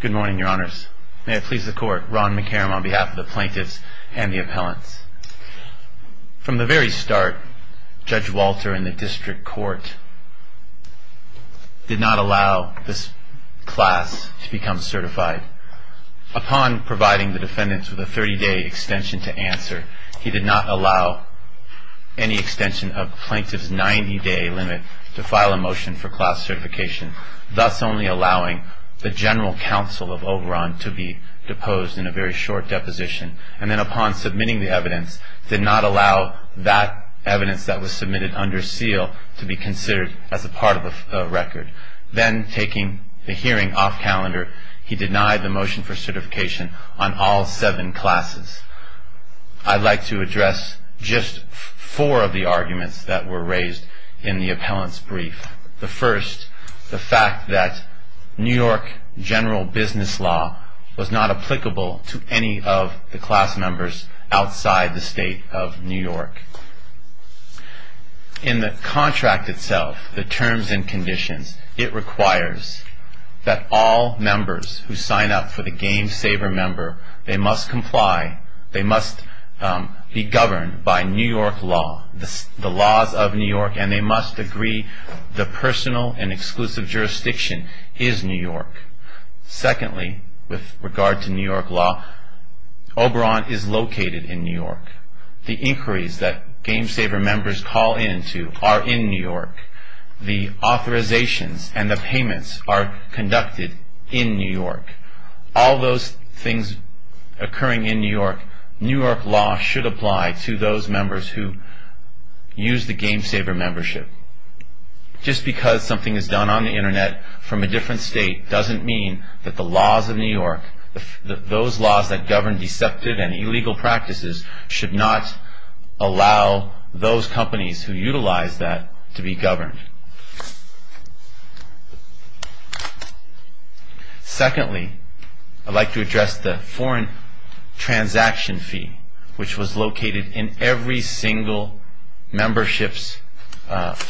Good morning, your honors. May it please the court, Ron McCarrom on behalf of the plaintiffs and the appellants. From the very start, Judge Walter in the district court did not allow this class to become certified. Upon providing the defendants with a 30-day extension to answer, he did not allow any extension of the plaintiff's 90-day limit to file a motion for class certification, thus only allowing the general counsel of Oberon to be deposed in a very short deposition. And then upon submitting the evidence, did not allow that evidence that was submitted under seal to be considered as a part of the record. Then taking the hearing off calendar, he denied the motion for certification on all seven classes. I'd like to address just four of the arguments that were raised in the appellant's brief. The first, the fact that New York general business law was not applicable to any of the class members outside the state of New York. In the contract itself, the terms and conditions, it requires that all members who sign up for the GameSaver member, they must comply, they must be governed by New York law, the laws of New York, and they must agree the personal and exclusive jurisdiction is New York. Secondly, with regard to New York law, Oberon is located in New York. The inquiries that GameSaver members call into are in New York. The authorizations and the payments are conducted in New York. All those things occurring in New York, New York law should apply to those members who use the GameSaver membership. Just because something is done on the internet from a different state doesn't mean that the laws of New York, those laws that govern deceptive and illegal practices should not allow those companies who utilize that to be governed. Secondly, I'd like to address the foreign transaction fee, which was located in every single membership's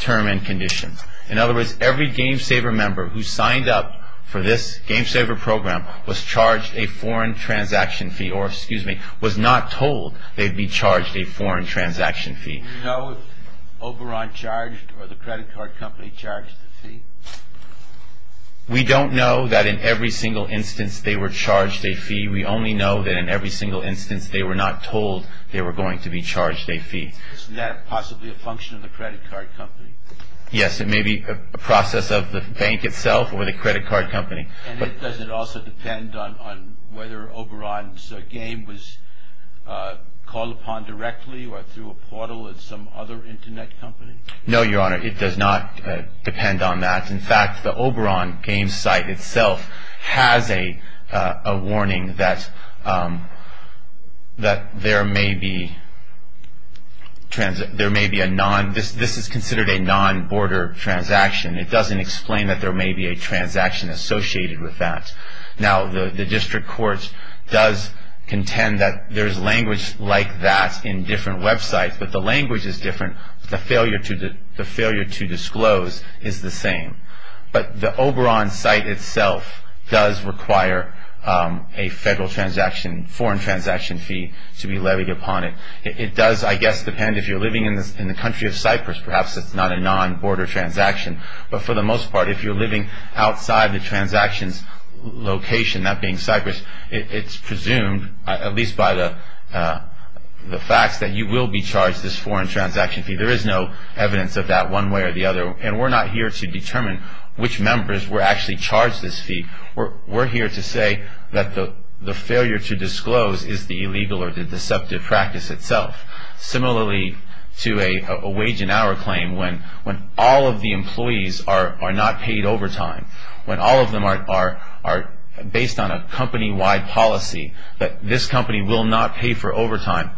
term and condition. In other words, every GameSaver member who signed up for this GameSaver program was charged a foreign transaction fee or, excuse me, was not told they'd be charged a foreign transaction fee. Do you know if Oberon charged or the credit card company charged the fee? We don't know that in every single instance they were charged a fee. We only know that in every single instance they were not told they were going to be charged a fee. Isn't that possibly a function of the credit card company? Yes, it may be a process of the bank itself or the credit card company. And does it also depend on whether Oberon's game was called upon directly or through a some other Internet company? No, Your Honor, it does not depend on that. In fact, the Oberon game site itself has a warning that there may be a non-border transaction. It doesn't explain that there may be a transaction associated with that. Now, the district courts does contend that there's language like that in different websites, but the language is different. The failure to disclose is the same. But the Oberon site itself does require a federal transaction, foreign transaction fee to be levied upon it. It does, I guess, depend if you're living in the country of Cyprus, perhaps it's not a non-border transaction. But for the most part, if you're living outside the transaction's location, that being Cyprus, it's presumed, at least by the facts, that you will be charged this foreign transaction fee. There is no evidence of that one way or the other. And we're not here to determine which members were actually charged this fee. We're here to say that the failure to disclose is the illegal or the deceptive practice itself. Similarly to a wage and hour claim, when all of the employees are not paid overtime, when all of them are based on a company-wide policy that this company will not pay for overtime,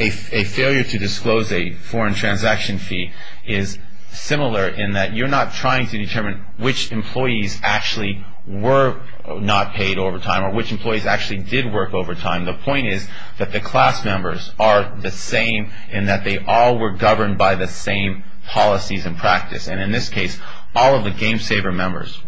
a failure to disclose a foreign transaction fee is similar in that you're not trying to determine which employees actually were not paid overtime or which employees actually did work overtime. The point is that the class members are the same in that they all were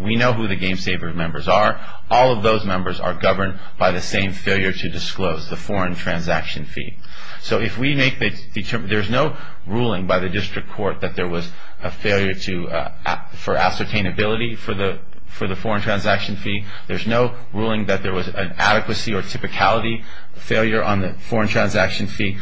We know who the game saver members are. All of those members are governed by the same failure to disclose, the foreign transaction fee. So if we make the determination, there's no ruling by the district court that there was a failure for ascertainability for the foreign transaction fee. There's no ruling that there was an adequacy or typicality failure on the foreign transaction fee.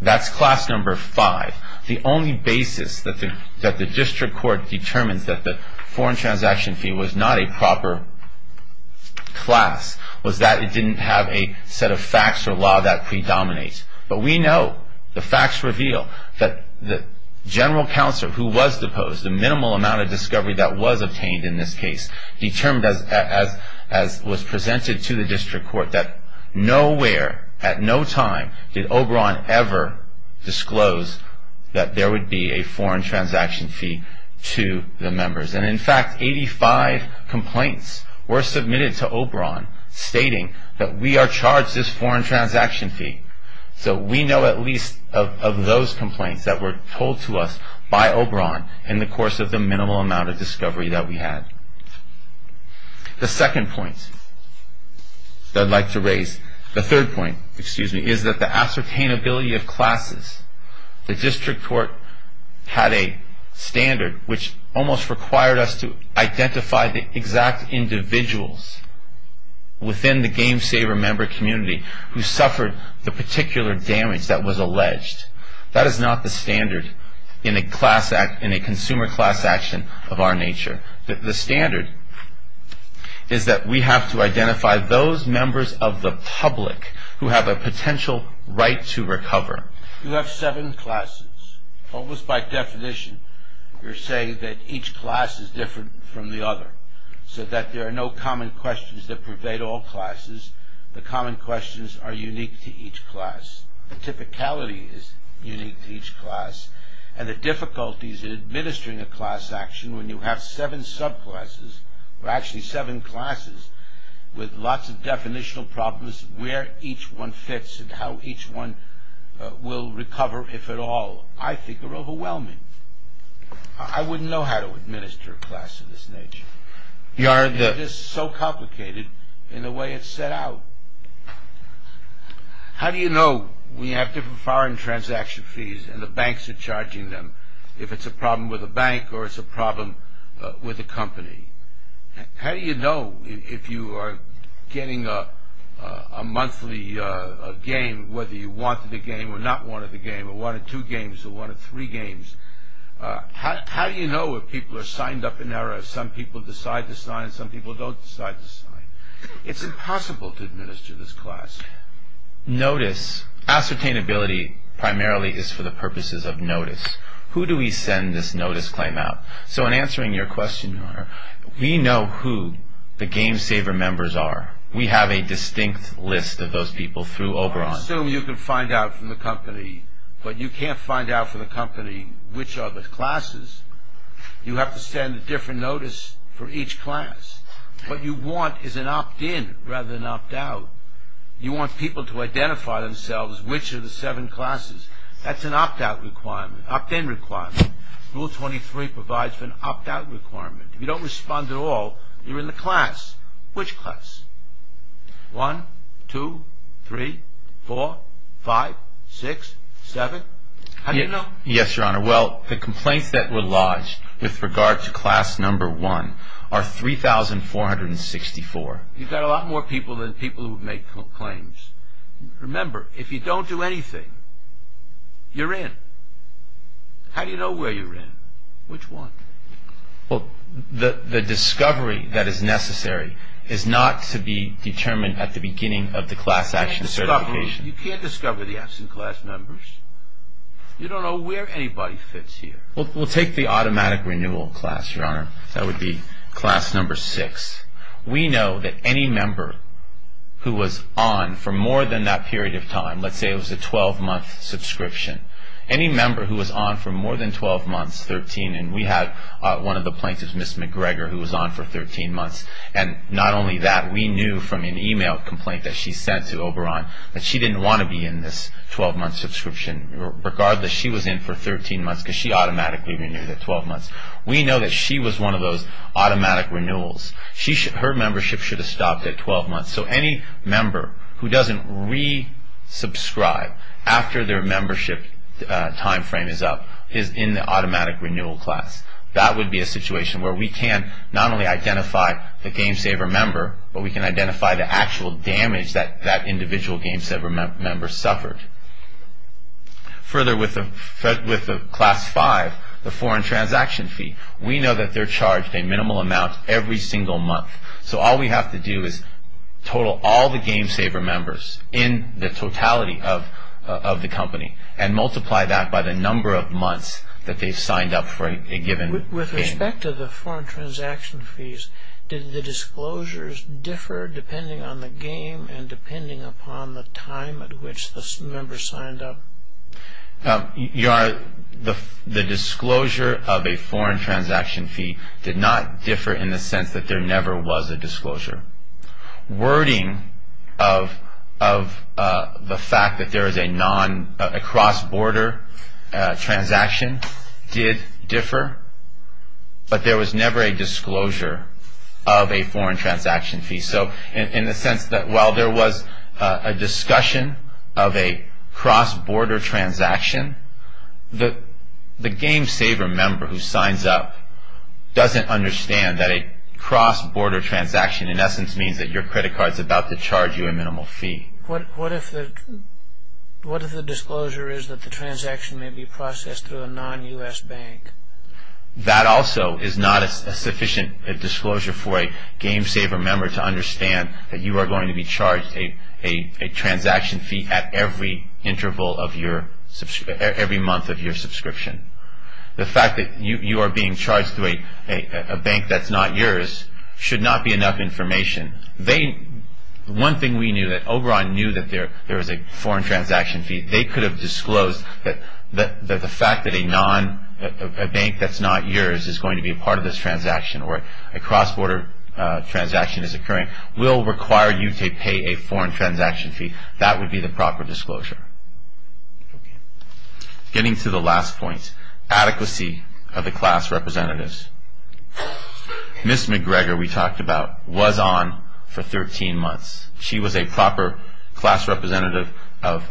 That's class number five. The only basis that the district court determines that the foreign transaction fee was not a proper class was that it didn't have a set of facts or law that predominates. But we know the facts reveal that the general counsel who was deposed, the minimal amount of discovery that was obtained in this case determined as was presented to the district court that nowhere at no time did Oberon ever disclose that there would be a foreign transaction fee to the members. And in fact, 85 complaints were submitted to Oberon stating that we are charged this foreign transaction fee. So we know at least of those complaints that were told to us by Oberon in the course of the minimal amount of discovery that we had. The second point that I'd like to raise, the third point that I'd like to raise is that the district court had a standard which almost required us to identify the exact individuals within the GameSaver member community who suffered the particular damage that was alleged. That is not the standard in a consumer class action of our nature. The standard is that we have to identify those members of the public who have a potential right to recover. You have seven classes. Almost by definition, you're saying that each class is different from the other. So that there are no common questions that pervade all classes. The common questions are unique to each class. The typicality is unique to each class. And the difficulties in administering a class action when you have seven classes with lots of definitional problems where each one fits and how each one will recover, if at all, I think are overwhelming. I wouldn't know how to administer a class of this nature. It is so complicated in the way it's set out. How do you know we have different foreign transaction fees and the banks are charging them if it's a problem with a bank or it's a problem with a company? How do you know if you are getting a monthly game whether you wanted a game or not wanted a game or wanted two games or wanted three games? How do you know if people are signed up in error? Some people decide to sign, some people don't decide to sign. It's impossible to administer this class. Notice, ascertainability primarily is for the purposes of notice. Who do we send this notice claim out? So in answering your question, Your Honor, we know who the game saver members are. We have a distinct list of those people through Oberon. I assume you can find out from the company, but you can't find out from the company which are the classes. You have to send a different notice for each class. What you want is an opt-in requirement. Rule 23 provides for an opt-out requirement. If you don't respond at all, you're in the class. Which class? 1, 2, 3, 4, 5, 6, 7? How do you know? Yes, Your Honor. Well, the complaints that were lodged with regard to class number 1 are 3,464. You've got a lot more people than people who have made complaints. Remember, if you don't do anything, you're in. How do you know where you're in? Which one? Well, the discovery that is necessary is not to be determined at the beginning of the class action certification. You can't discover the absent class members. You don't know where anybody fits here. Well, we'll take the automatic renewal class, Your Honor. That would be class number 6. We know that any member who was on for more than that period of time, let's say it was a 12-month subscription, any member who was on for more than 12 months, 13, and we had one of the plaintiffs, Ms. McGregor, who was on for 13 months, and not only that, we knew from an email complaint that she sent to Oberon that she didn't want to be in this 12-month subscription. Regardless, she was in for 13 months because she automatically renewed at Her membership should have stopped at 12 months. So any member who doesn't re-subscribe after their membership time frame is up is in the automatic renewal class. That would be a situation where we can not only identify the game saver member, but we can identify the actual damage that that individual game saver member suffered. Further, with the class 5, the foreign transaction fee, we know that they're charged a minimal amount every single month. So all we have to do is total all the game saver members in the totality of the company and multiply that by the number of months that they signed up for a given game. With respect to the foreign transaction fees, did the disclosures differ depending on the game and depending upon the time at which the member signed up? Your Honor, the disclosure of a foreign transaction fee did not differ in the sense that there never was a disclosure. Wording of the fact that there is a cross-border transaction did differ, but there was never a disclosure of a foreign transaction fee. So in the sense that while there was a discussion of a cross-border transaction, the game saver member who signs up doesn't understand that a cross-border transaction in essence means that your credit card is about to charge you a minimal fee. What if the disclosure is that the transaction may be processed through a non-U.S. bank? That also is not a sufficient disclosure for a game saver member to understand that you are going to be charged a transaction fee at every month of your subscription. The fact that you are being charged through a bank that's not yours should not be enough information. One thing we knew, Oberon knew that there was a foreign transaction fee. They could have disclosed that the fact that a bank that's not yours is going to be a part of this transaction or a cross-border transaction is occurring will require you to pay a foreign transaction fee. That would be the proper disclosure. Getting to the last point, adequacy of the class representatives. Ms. McGregor, we talked about, was on for 13 months. She was a proper class representative of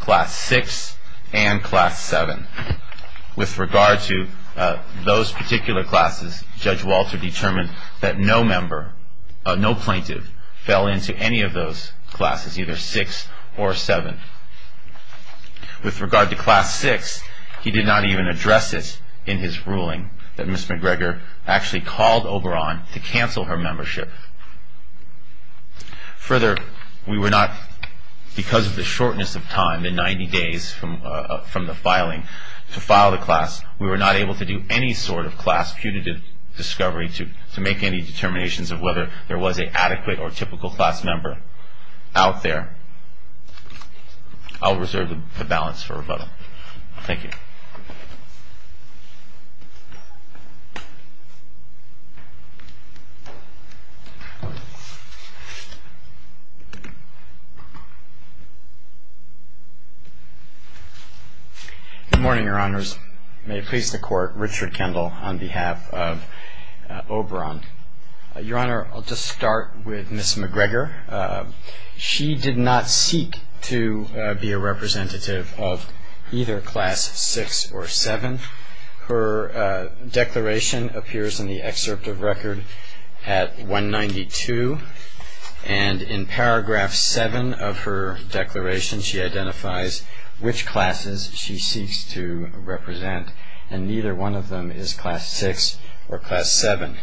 class 6 and class 7. With regard to those particular classes, Judge Walter determined that no member, no plaintiff fell into any of those classes, either 6 or 7. With regard to class 6, he did not even address it in his ruling that Ms. McGregor actually called Oberon to cancel her membership. Further, we were not, because of the shortness of time, the 90 days from the filing, to file the class, we were not able to do any sort of class punitive discovery to make any determinations of whether there was an adequate or typical class member out there. I'll reserve the balance for rebuttal. Thank you. Good morning, Your Honors. May it please the Court, Richard Kendall on behalf of Oberon. Your Honor, I'll just start with Ms. McGregor. She did not seek to be a representative of either class 6 or 7. Her declaration appears in the excerpt of record at 192, and in paragraph 7 of her declaration, she identifies which classes she seeks to represent, and neither one of them is class 6 or class 7.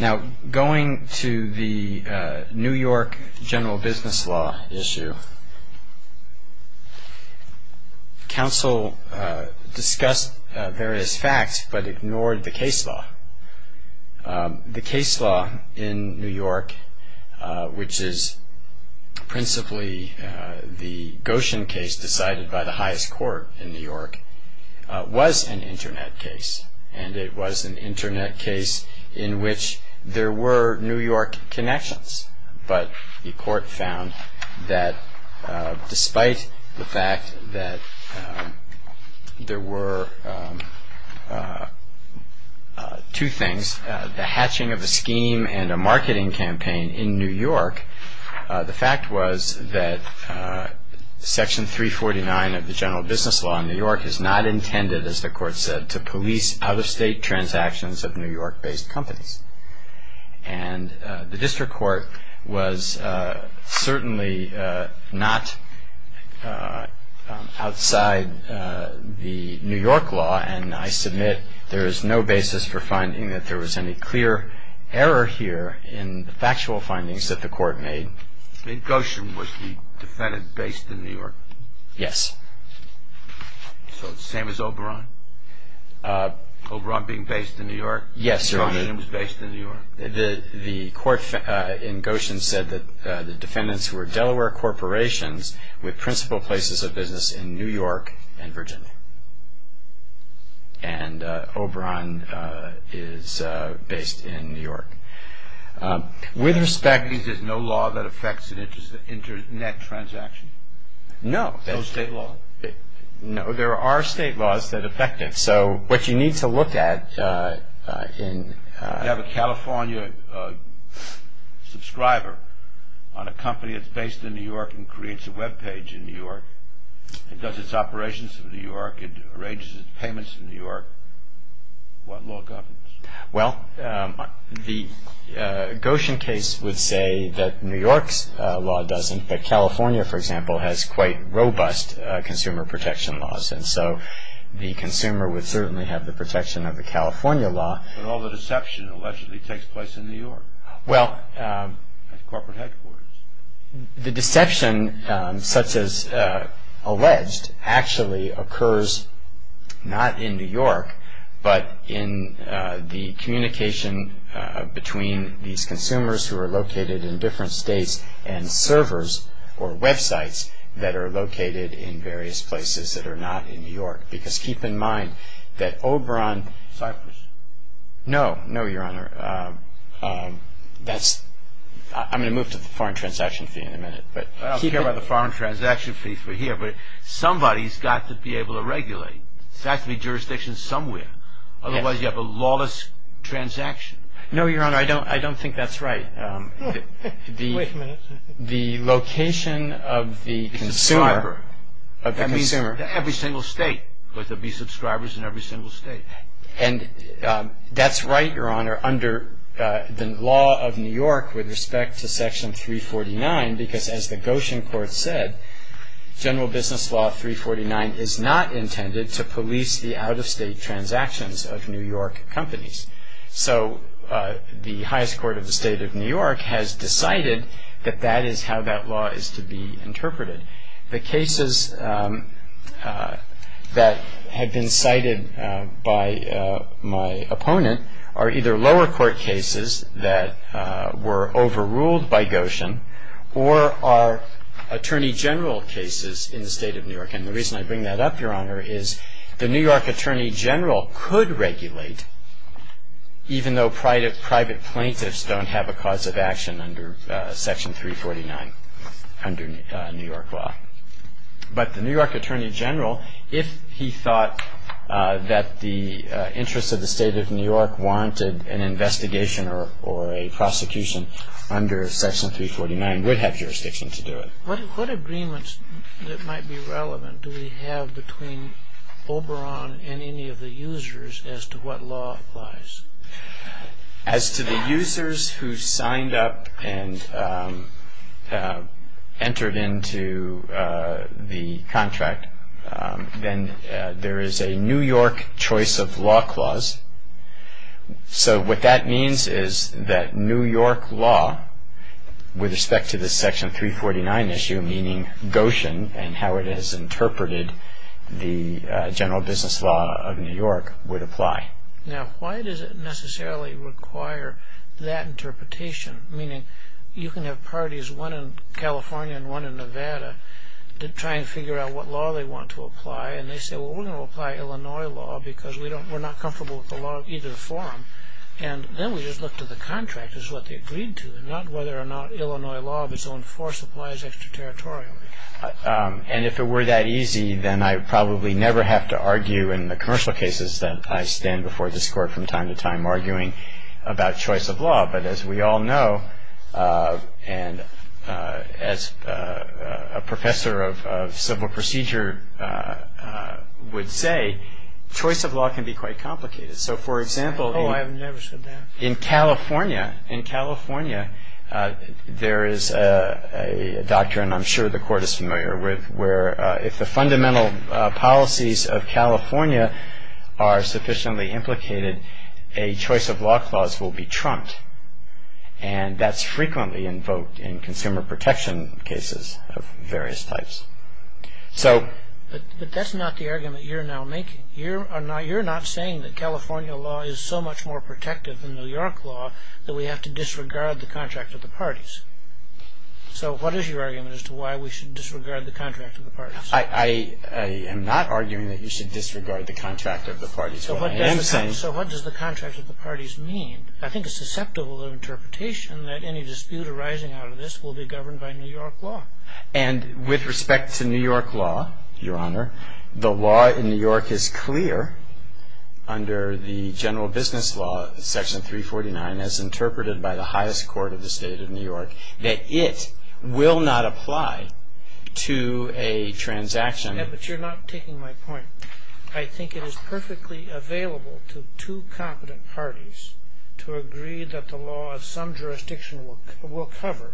Now, going to the New York general business law issue, counsel discussed various facts, but ignored the case law. The case law in New York, which is principally the Goshen case decided by the highest court in New York, was an Internet case, and it was an Internet case in which there were New York connections, but the court found that despite the fact that there were two things, the hatching of a scheme and a marketing campaign in New York is not intended, as the court said, to police out-of-state transactions of New York-based companies. And the district court was certainly not outside the New York law, and I submit there is no basis for finding that there was any clear error here in the factual findings that the court made. The Goshen was the defendant based in New York? Yes. So the same as Oberon? Oberon being based in New York? Yes, sir. Oberon was based in New York? The court in Goshen said that the defendants were Delaware corporations with principal places of business in New York and Virginia, and Oberon is based in New York. With respect to the Goshen case, there's no law that affects an Internet transaction? No. No state law? No, there are state laws that affect it. So what you need to look at in- You have a California subscriber on a company that's based in New York and creates a web page in New York, and does its operations in New York, and arranges its payments in New York. What law governs? Well, the Goshen case would say that New York's law doesn't, but California, for example, has quite robust consumer protection laws, and so the consumer would certainly have the protection of the California law. But all the deception allegedly takes place in New York at corporate headquarters. The deception, such as alleged, actually occurs not in New York, but in the communication between these consumers who are located in different states and servers or websites that are located in various places that are not in New York, because keep in mind that Oberon- Cyprus? No. No, Your Honor. I'm going to move to the foreign transaction fee in a minute. I don't care about the foreign transaction fee for here, but somebody's got to be able to regulate. It has to be jurisdiction somewhere, otherwise you have a lawless transaction. No, Your Honor, I don't think that's right. Wait a minute. The location of the subscriber- Of the consumer. Every single state. There have to be subscribers in every single state. And that's right, Your Honor, under the law of New York with respect to Section 349, because as the Goshen court said, General Business Law 349 is not intended to police the out-of-state transactions of New York companies. So the highest court of the state of New York has decided that that is how that law is to be interpreted. The cases that have been cited by my opponent are either lower court cases that were overruled by Goshen or are Attorney General cases in the state of New York. And the reason I bring that up, Your Honor, is the New York Attorney General could regulate, even though private plaintiffs don't have a cause of action under Section 349 under New York law, but the New York Attorney General, if he thought that the interest of the state of New York warranted an investigation or a prosecution under Section 349, would have jurisdiction to do it. What agreements that might be relevant do we have between Oberon and any of the users as to what law applies? As to the users who signed up and entered into the contract, then there is a New York choice of law clause. So what that means is that New York law, with respect to the Section 349 issue, meaning Goshen and how it is interpreted, the General Business Law of New York would apply. Now, why does it necessarily require that interpretation? Meaning, you can have parties, one in California and one in Nevada, to try and figure out what law they want to apply. And they say, well, we're going to apply Illinois law because we're not comfortable with the law of either form. And then we just look to the contractors, what they agreed to, and not whether or not Illinois law of its own force applies extraterritorially. And if it were that easy, then I probably never have to argue in the commercial cases that I stand before this Court from time to time arguing about choice of law. But as we all know, and as a professor of civil procedure would say, choice of law can be quite complicated. So, for example, in California, there is a doctrine I'm sure the Court is familiar with where if the fundamental policies of California are sufficiently implicated, a choice of law clause will be trumped. And that's frequently invoked in consumer protection cases of various types. But that's not the argument you're now making. You're not saying that California law is so much more protective than New York law that we have to disregard the contract of the parties. So what is your argument as to why we should disregard the contract of the parties? I am not arguing that you should disregard the contract of the parties. What I am saying So what does the contract of the parties mean? I think it's susceptible to interpretation that any dispute arising out of this will be governed by New York law. And with respect to New York law, Your Honor, the law in New York is clear under the that it will not apply to a transaction. But you're not taking my point. I think it is perfectly available to two competent parties to agree that the law of some jurisdiction will cover,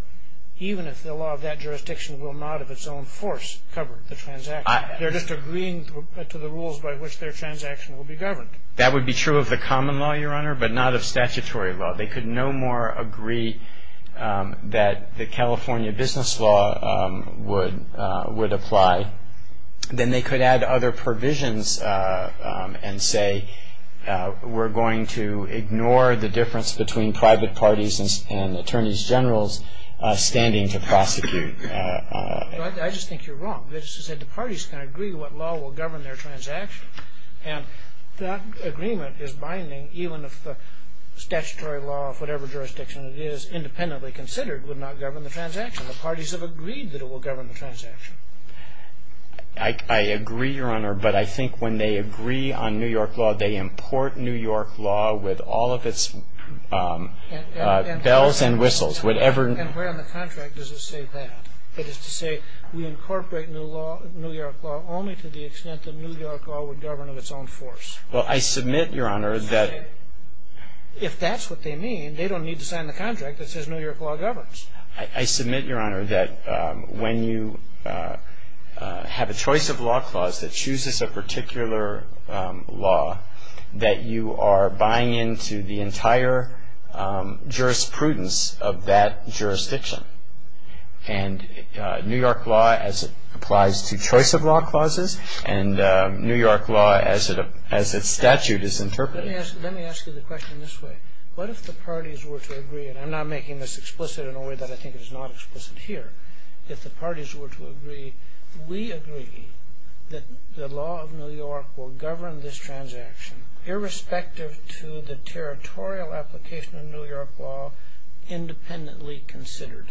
even if the law of that jurisdiction will not of its own force cover the transaction. They're just agreeing to the rules by which their transaction will be governed. That would be true of the common law, Your Honor, but not of statutory law. They could no more agree that the California business law would apply than they could add other provisions and say we're going to ignore the difference between private parties and attorneys generals standing to prosecute. I just think you're wrong. The parties can agree what law will govern their transaction. And that agreement is binding even if the statutory law of whatever jurisdiction it is independently considered would not govern the transaction. The parties have agreed that it will govern the transaction. I agree, Your Honor, but I think when they agree on New York law, they import New York law with all of its bells and whistles, whatever. And where in the contract does it say that? It is to say we incorporate New York law only to the extent that New York law would govern of its own force. Well, I submit, Your Honor, that If that's what they mean, they don't need to sign the contract that says New York law governs. I submit, Your Honor, that when you have a choice of law clause that chooses a particular law, that you are buying into the entire jurisprudence of that jurisdiction. And New York law as it applies to choice of law clauses and New York law as its statute is interpreted. Let me ask you the question this way. What if the parties were to agree, and I'm not making this explicit in a way that I think is not explicit here. If the parties were to agree, we agree that the law of New York will govern this transaction irrespective to the territorial application of New York law independently considered.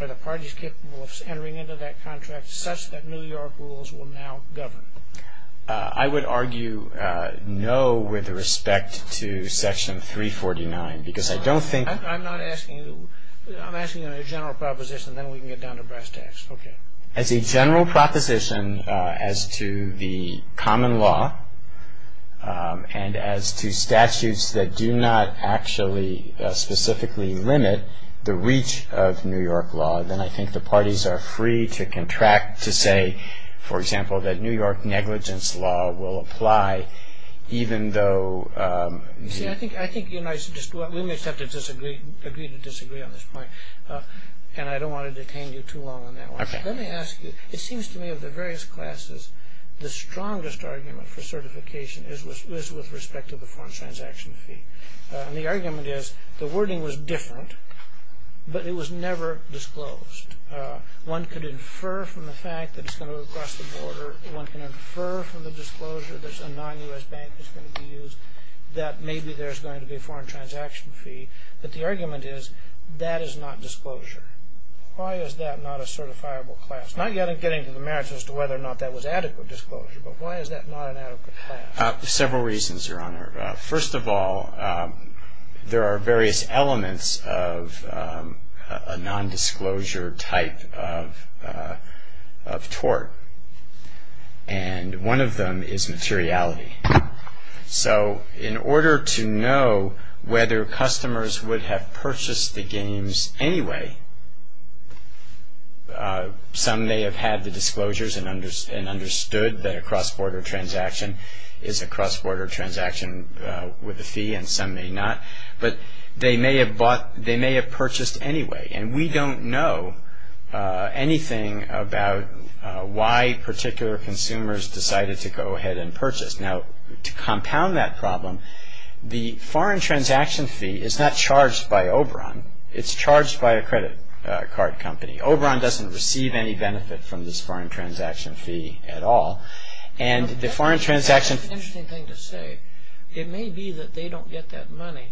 Are the parties capable of entering into that contract such that New York rules will now govern? I would argue no with respect to Section 349 because I don't think. I'm not asking you. I'm asking you a general proposition and then we can get down to brass tacks. Okay. As a general proposition as to the common law and as to statutes that do not actually specifically limit the reach of New York law, then I think the parties are free to contract to say, for example, that New York negligence law will apply even though. You see, I think we may just have to agree to disagree on this point. And I don't want to detain you too long on that one. Okay. Let me ask you. It seems to me of the various classes, the strongest argument for certification is with respect to the foreign transaction fee. And the argument is the wording was different but it was never disclosed. One could infer from the fact that it's going to go across the border. One can infer from the disclosure that a non-U.S. bank is going to be used that maybe there's going to be a foreign transaction fee. But the argument is that is not disclosure. Why is that not a certifiable class? Not yet in getting to the merits as to whether or not that was adequate disclosure, but why is that not an adequate class? Several reasons, Your Honor. First of all, there are various elements of a non-disclosure type of tort, and one of them is materiality. So in order to know whether customers would have purchased the games anyway, some may have had the disclosures and understood that a cross-border transaction is a cross-border transaction with a fee, and some may not. But they may have purchased anyway, and we don't know anything about why particular consumers decided to go ahead and purchase. Now, to compound that problem, the foreign transaction fee is not charged by Oberon. It's charged by a credit card company. Oberon doesn't receive any benefit from this foreign transaction fee at all. And the foreign transaction... That's an interesting thing to say. It may be that they don't get that money,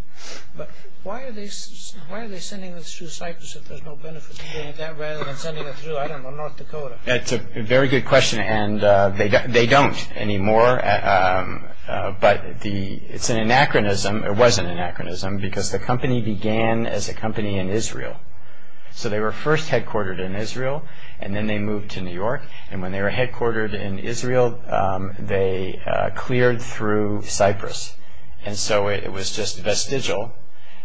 but why are they sending this through Cyprus if there's no benefit to doing that rather than sending it through, I don't know, North Dakota? That's a very good question, and they don't anymore. But it's an anachronism, or was an anachronism, because the company began as a company in Israel. So they were first headquartered in Israel, and then they moved to New York. And when they were headquartered in Israel, they cleared through Cyprus. And so it was just vestigial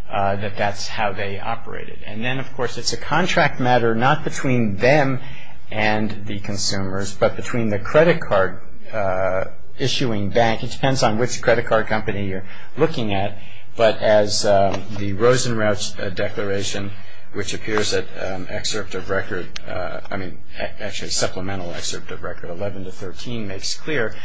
that that's how they operated. And then, of course, it's a contract matter not between them and the consumers, but between the credit card issuing bank. It depends on which credit card company you're looking at. But as the Rosenrauch Declaration, which appears at an excerpt of record, I mean, actually a supplemental excerpt of record 11 to 13 makes clear,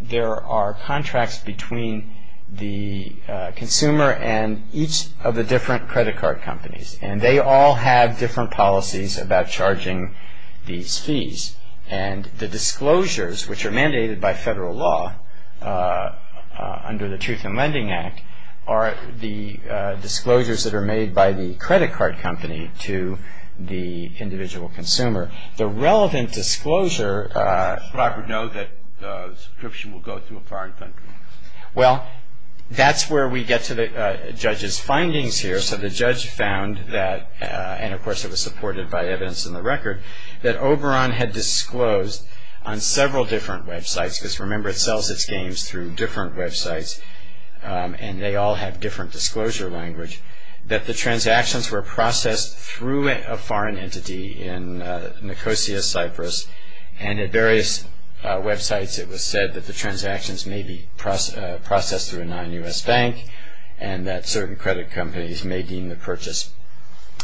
there are contracts between the consumer and each of the different credit card companies. And they all have different policies about charging these fees. And the disclosures, which are mandated by federal law under the Truth in Lending Act, are the disclosures that are made by the credit card company to the individual consumer. The relevant disclosure... Robert knows that the subscription will go through a foreign country. Well, that's where we get to the judge's findings here. So the judge found that, and of course it was supported by evidence in the record, that Oberon had disclosed on several different websites, because remember it sells its games through different websites, and they all have different disclosure language, that the transactions were processed through a foreign entity in Nicosia, Cyprus. And at various websites it was said that the transactions may be processed through a non-U.S. bank and that certain credit companies may deem the purchase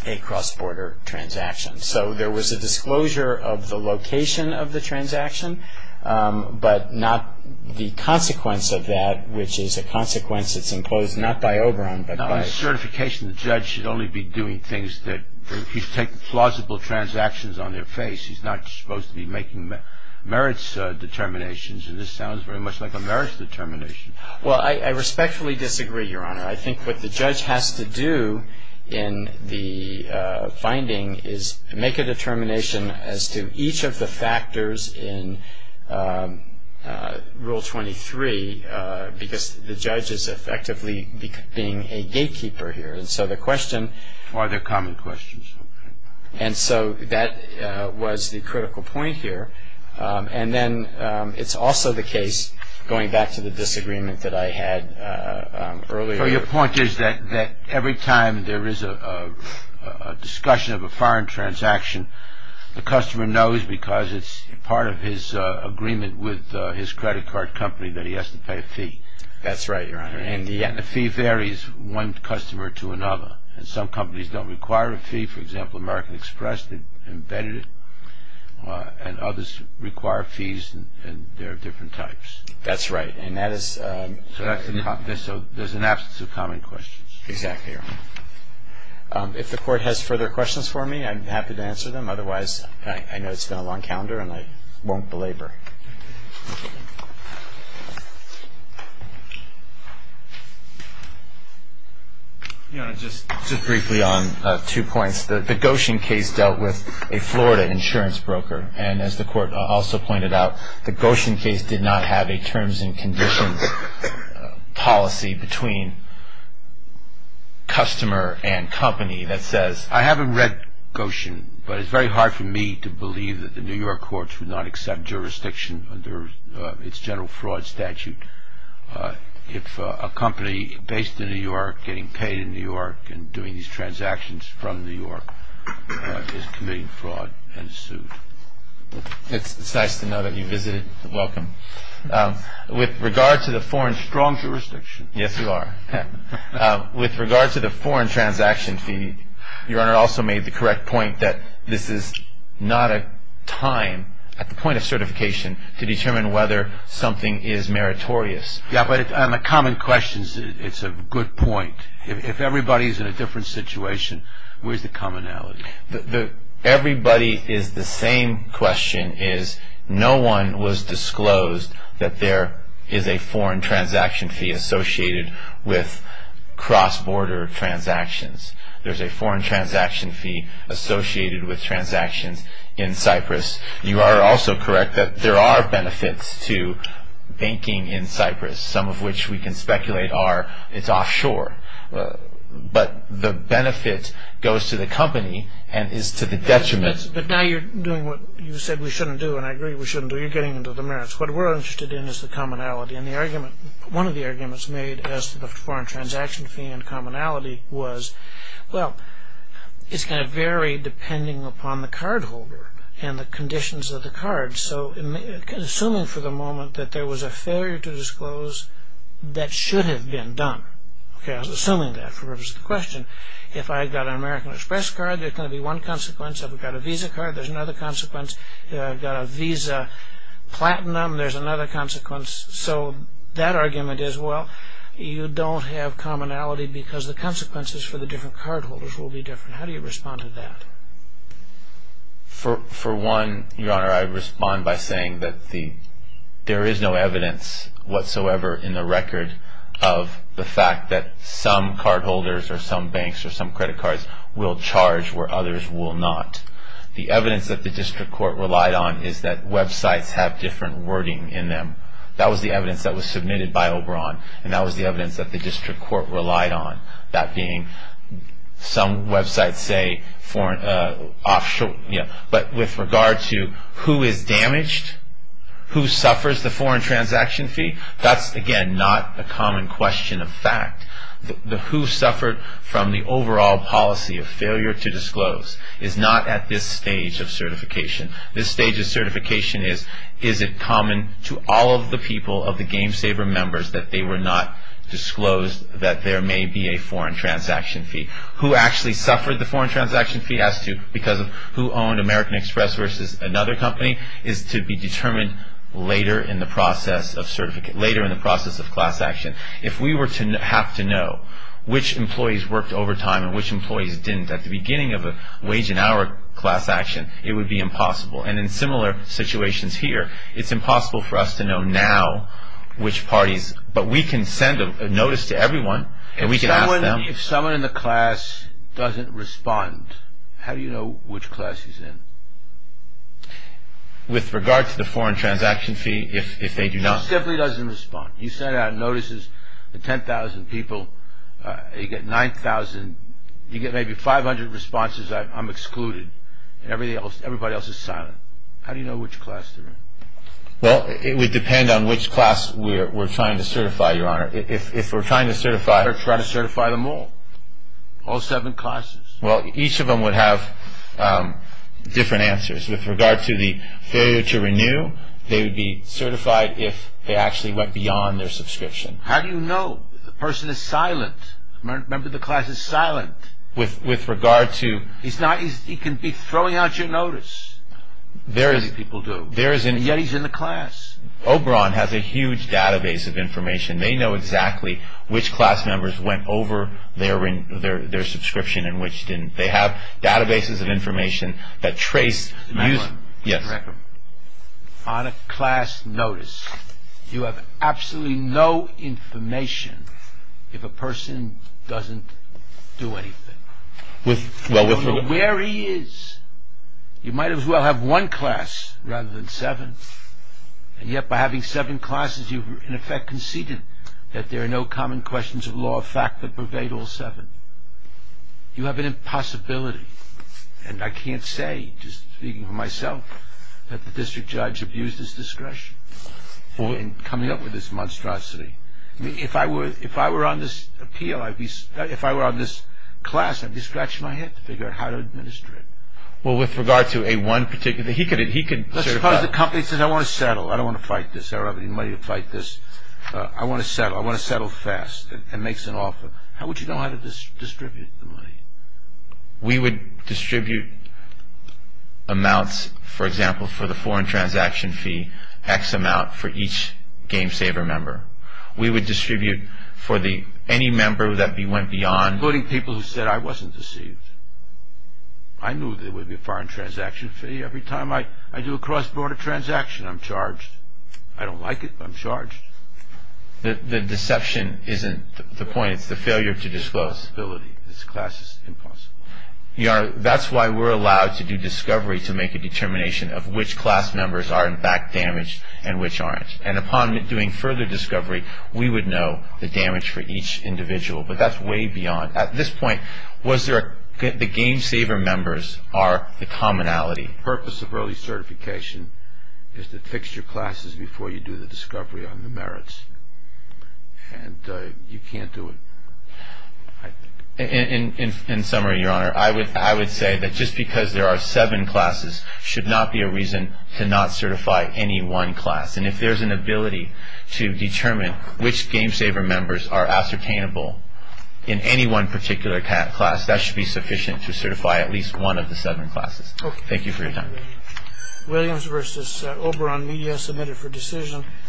a cross-border transaction. So there was a disclosure of the location of the transaction, but not the consequence of that, which is a consequence that's enclosed not by Oberon, but by... On certification, the judge should only be doing things that... He's taking plausible transactions on their face. He's not supposed to be making merits determinations, and this sounds very much like a merits determination. Well, I respectfully disagree, Your Honor. I think what the judge has to do in the finding is make a determination as to each of the factors in Rule 23, because the judge is effectively being a gatekeeper here. And so the question... Are there common questions? And so that was the critical point here. And then it's also the case, going back to the disagreement that I had earlier... The customer knows because it's part of his agreement with his credit card company that he has to pay a fee. That's right, Your Honor. And the fee varies from one customer to another. And some companies don't require a fee. For example, American Express embedded it, and others require fees, and there are different types. That's right, and that is... Exactly, Your Honor. If the Court has further questions for me, I'm happy to answer them. Otherwise, I know it's been a long calendar, and I won't belabor. Your Honor, just briefly on two points. The Goshen case dealt with a Florida insurance broker, and as the Court also pointed out, the Goshen case did not have a terms and conditions policy between customer and company that says... I haven't read Goshen, but it's very hard for me to believe that the New York courts would not accept jurisdiction under its general fraud statute if a company based in New York, getting paid in New York, and doing these transactions from New York is committing fraud and is sued. It's nice to know that you visited. Welcome. With regard to the foreign... Strong jurisdiction. Yes, you are. With regard to the foreign transaction fee, Your Honor also made the correct point that this is not a time, at the point of certification, to determine whether something is meritorious. Yeah, but on the common questions, it's a good point. If everybody's in a different situation, where's the commonality? Everybody is the same question. No one was disclosed that there is a foreign transaction fee associated with cross-border transactions. There's a foreign transaction fee associated with transactions in Cyprus. You are also correct that there are benefits to banking in Cyprus, some of which we can speculate are it's offshore. But the benefit goes to the company and is to the detriment. But now you're doing what you said we shouldn't do, and I agree we shouldn't do. You're getting into the merits. What we're interested in is the commonality, and one of the arguments made as to the foreign transaction fee and commonality was, well, it's going to vary depending upon the cardholder and the conditions of the card. So assuming for the moment that there was a failure to disclose, that should have been done. Okay, I was assuming that for the purpose of the question. If I got an American Express card, there's going to be one consequence. If I've got a Visa card, there's another consequence. If I've got a Visa Platinum, there's another consequence. So that argument is, well, you don't have commonality because the consequences for the different cardholders will be different. How do you respond to that? For one, Your Honor, I respond by saying that there is no evidence whatsoever in the record of the fact that some cardholders or some banks or some credit cards will charge where others will not. The evidence that the district court relied on is that websites have different wording in them. That was the evidence that was submitted by Oberon, and that was the evidence that the district court relied on, that being some websites say, but with regard to who is damaged, who suffers the foreign transaction fee, that's, again, not a common question of fact. The who suffered from the overall policy of failure to disclose is not at this stage of certification. This stage of certification is, is it common to all of the people of the GameSaver members that they were not disclosed that there may be a foreign transaction fee. Who actually suffered the foreign transaction fee has to, because of who owned American Express versus another company, is to be determined later in the process of class action. If we were to have to know which employees worked overtime and which employees didn't at the beginning of a wage and hour class action, it would be impossible. And in similar situations here, it's impossible for us to know now which parties, but we can send a notice to everyone, and we can ask them. If someone in the class doesn't respond, how do you know which class he's in? With regard to the foreign transaction fee, if they do not. He simply doesn't respond. You send out notices to 10,000 people, you get 9,000, you get maybe 500 responses, I'm excluded, and everybody else is silent. How do you know which class they're in? Well, it would depend on which class we're trying to certify, Your Honor. If we're trying to certify... Try to certify them all. All seven classes. Well, each of them would have different answers. With regard to the failure to renew, they would be certified if they actually went beyond their subscription. How do you know? The person is silent. Remember, the class is silent. With regard to... He can be throwing out your notice. Many people do. Yet he's in the class. Oberon has a huge database of information. They know exactly which class members went over their subscription and which didn't. They have databases of information that trace... The Mac one. Yes. On a class notice, you have absolutely no information if a person doesn't do anything. With regard to where he is, you might as well have one class rather than seven, and yet by having seven classes, you've in effect conceded that there are no common questions of law of fact that pervade all seven. You have an impossibility, and I can't say, just speaking for myself, that the district judge abused his discretion in coming up with this monstrosity. If I were on this appeal, if I were on this class, I'd be scratching my head to figure out how to administer it. Well, with regard to a one particular... Let's suppose the company says, I want to settle. I don't want to fight this. I don't have any money to fight this. I want to settle. I want to settle fast and makes an offer. How would you know how to distribute the money? We would distribute amounts, for example, for the foreign transaction fee, X amount for each GameSaver member. We would distribute for any member that went beyond... Including people who said, I wasn't deceived. I knew there would be a foreign transaction fee. Every time I do a cross-border transaction, I'm charged. I don't like it, but I'm charged. The deception isn't the point. It's the failure to disclose. This class is impossible. Your Honor, that's why we're allowed to do discovery to make a determination of which class members are in fact damaged and which aren't. And upon doing further discovery, we would know the damage for each individual. But that's way beyond. At this point, the GameSaver members are the commonality. The purpose of early certification is to fix your classes before you do the discovery on the merits. And you can't do it. In summary, Your Honor, I would say that just because there are seven classes should not be a reason to not certify any one class. And if there's an ability to determine which GameSaver members are ascertainable in any one particular class, that should be sufficient to certify at least one of the seven classes. Thank you for your time.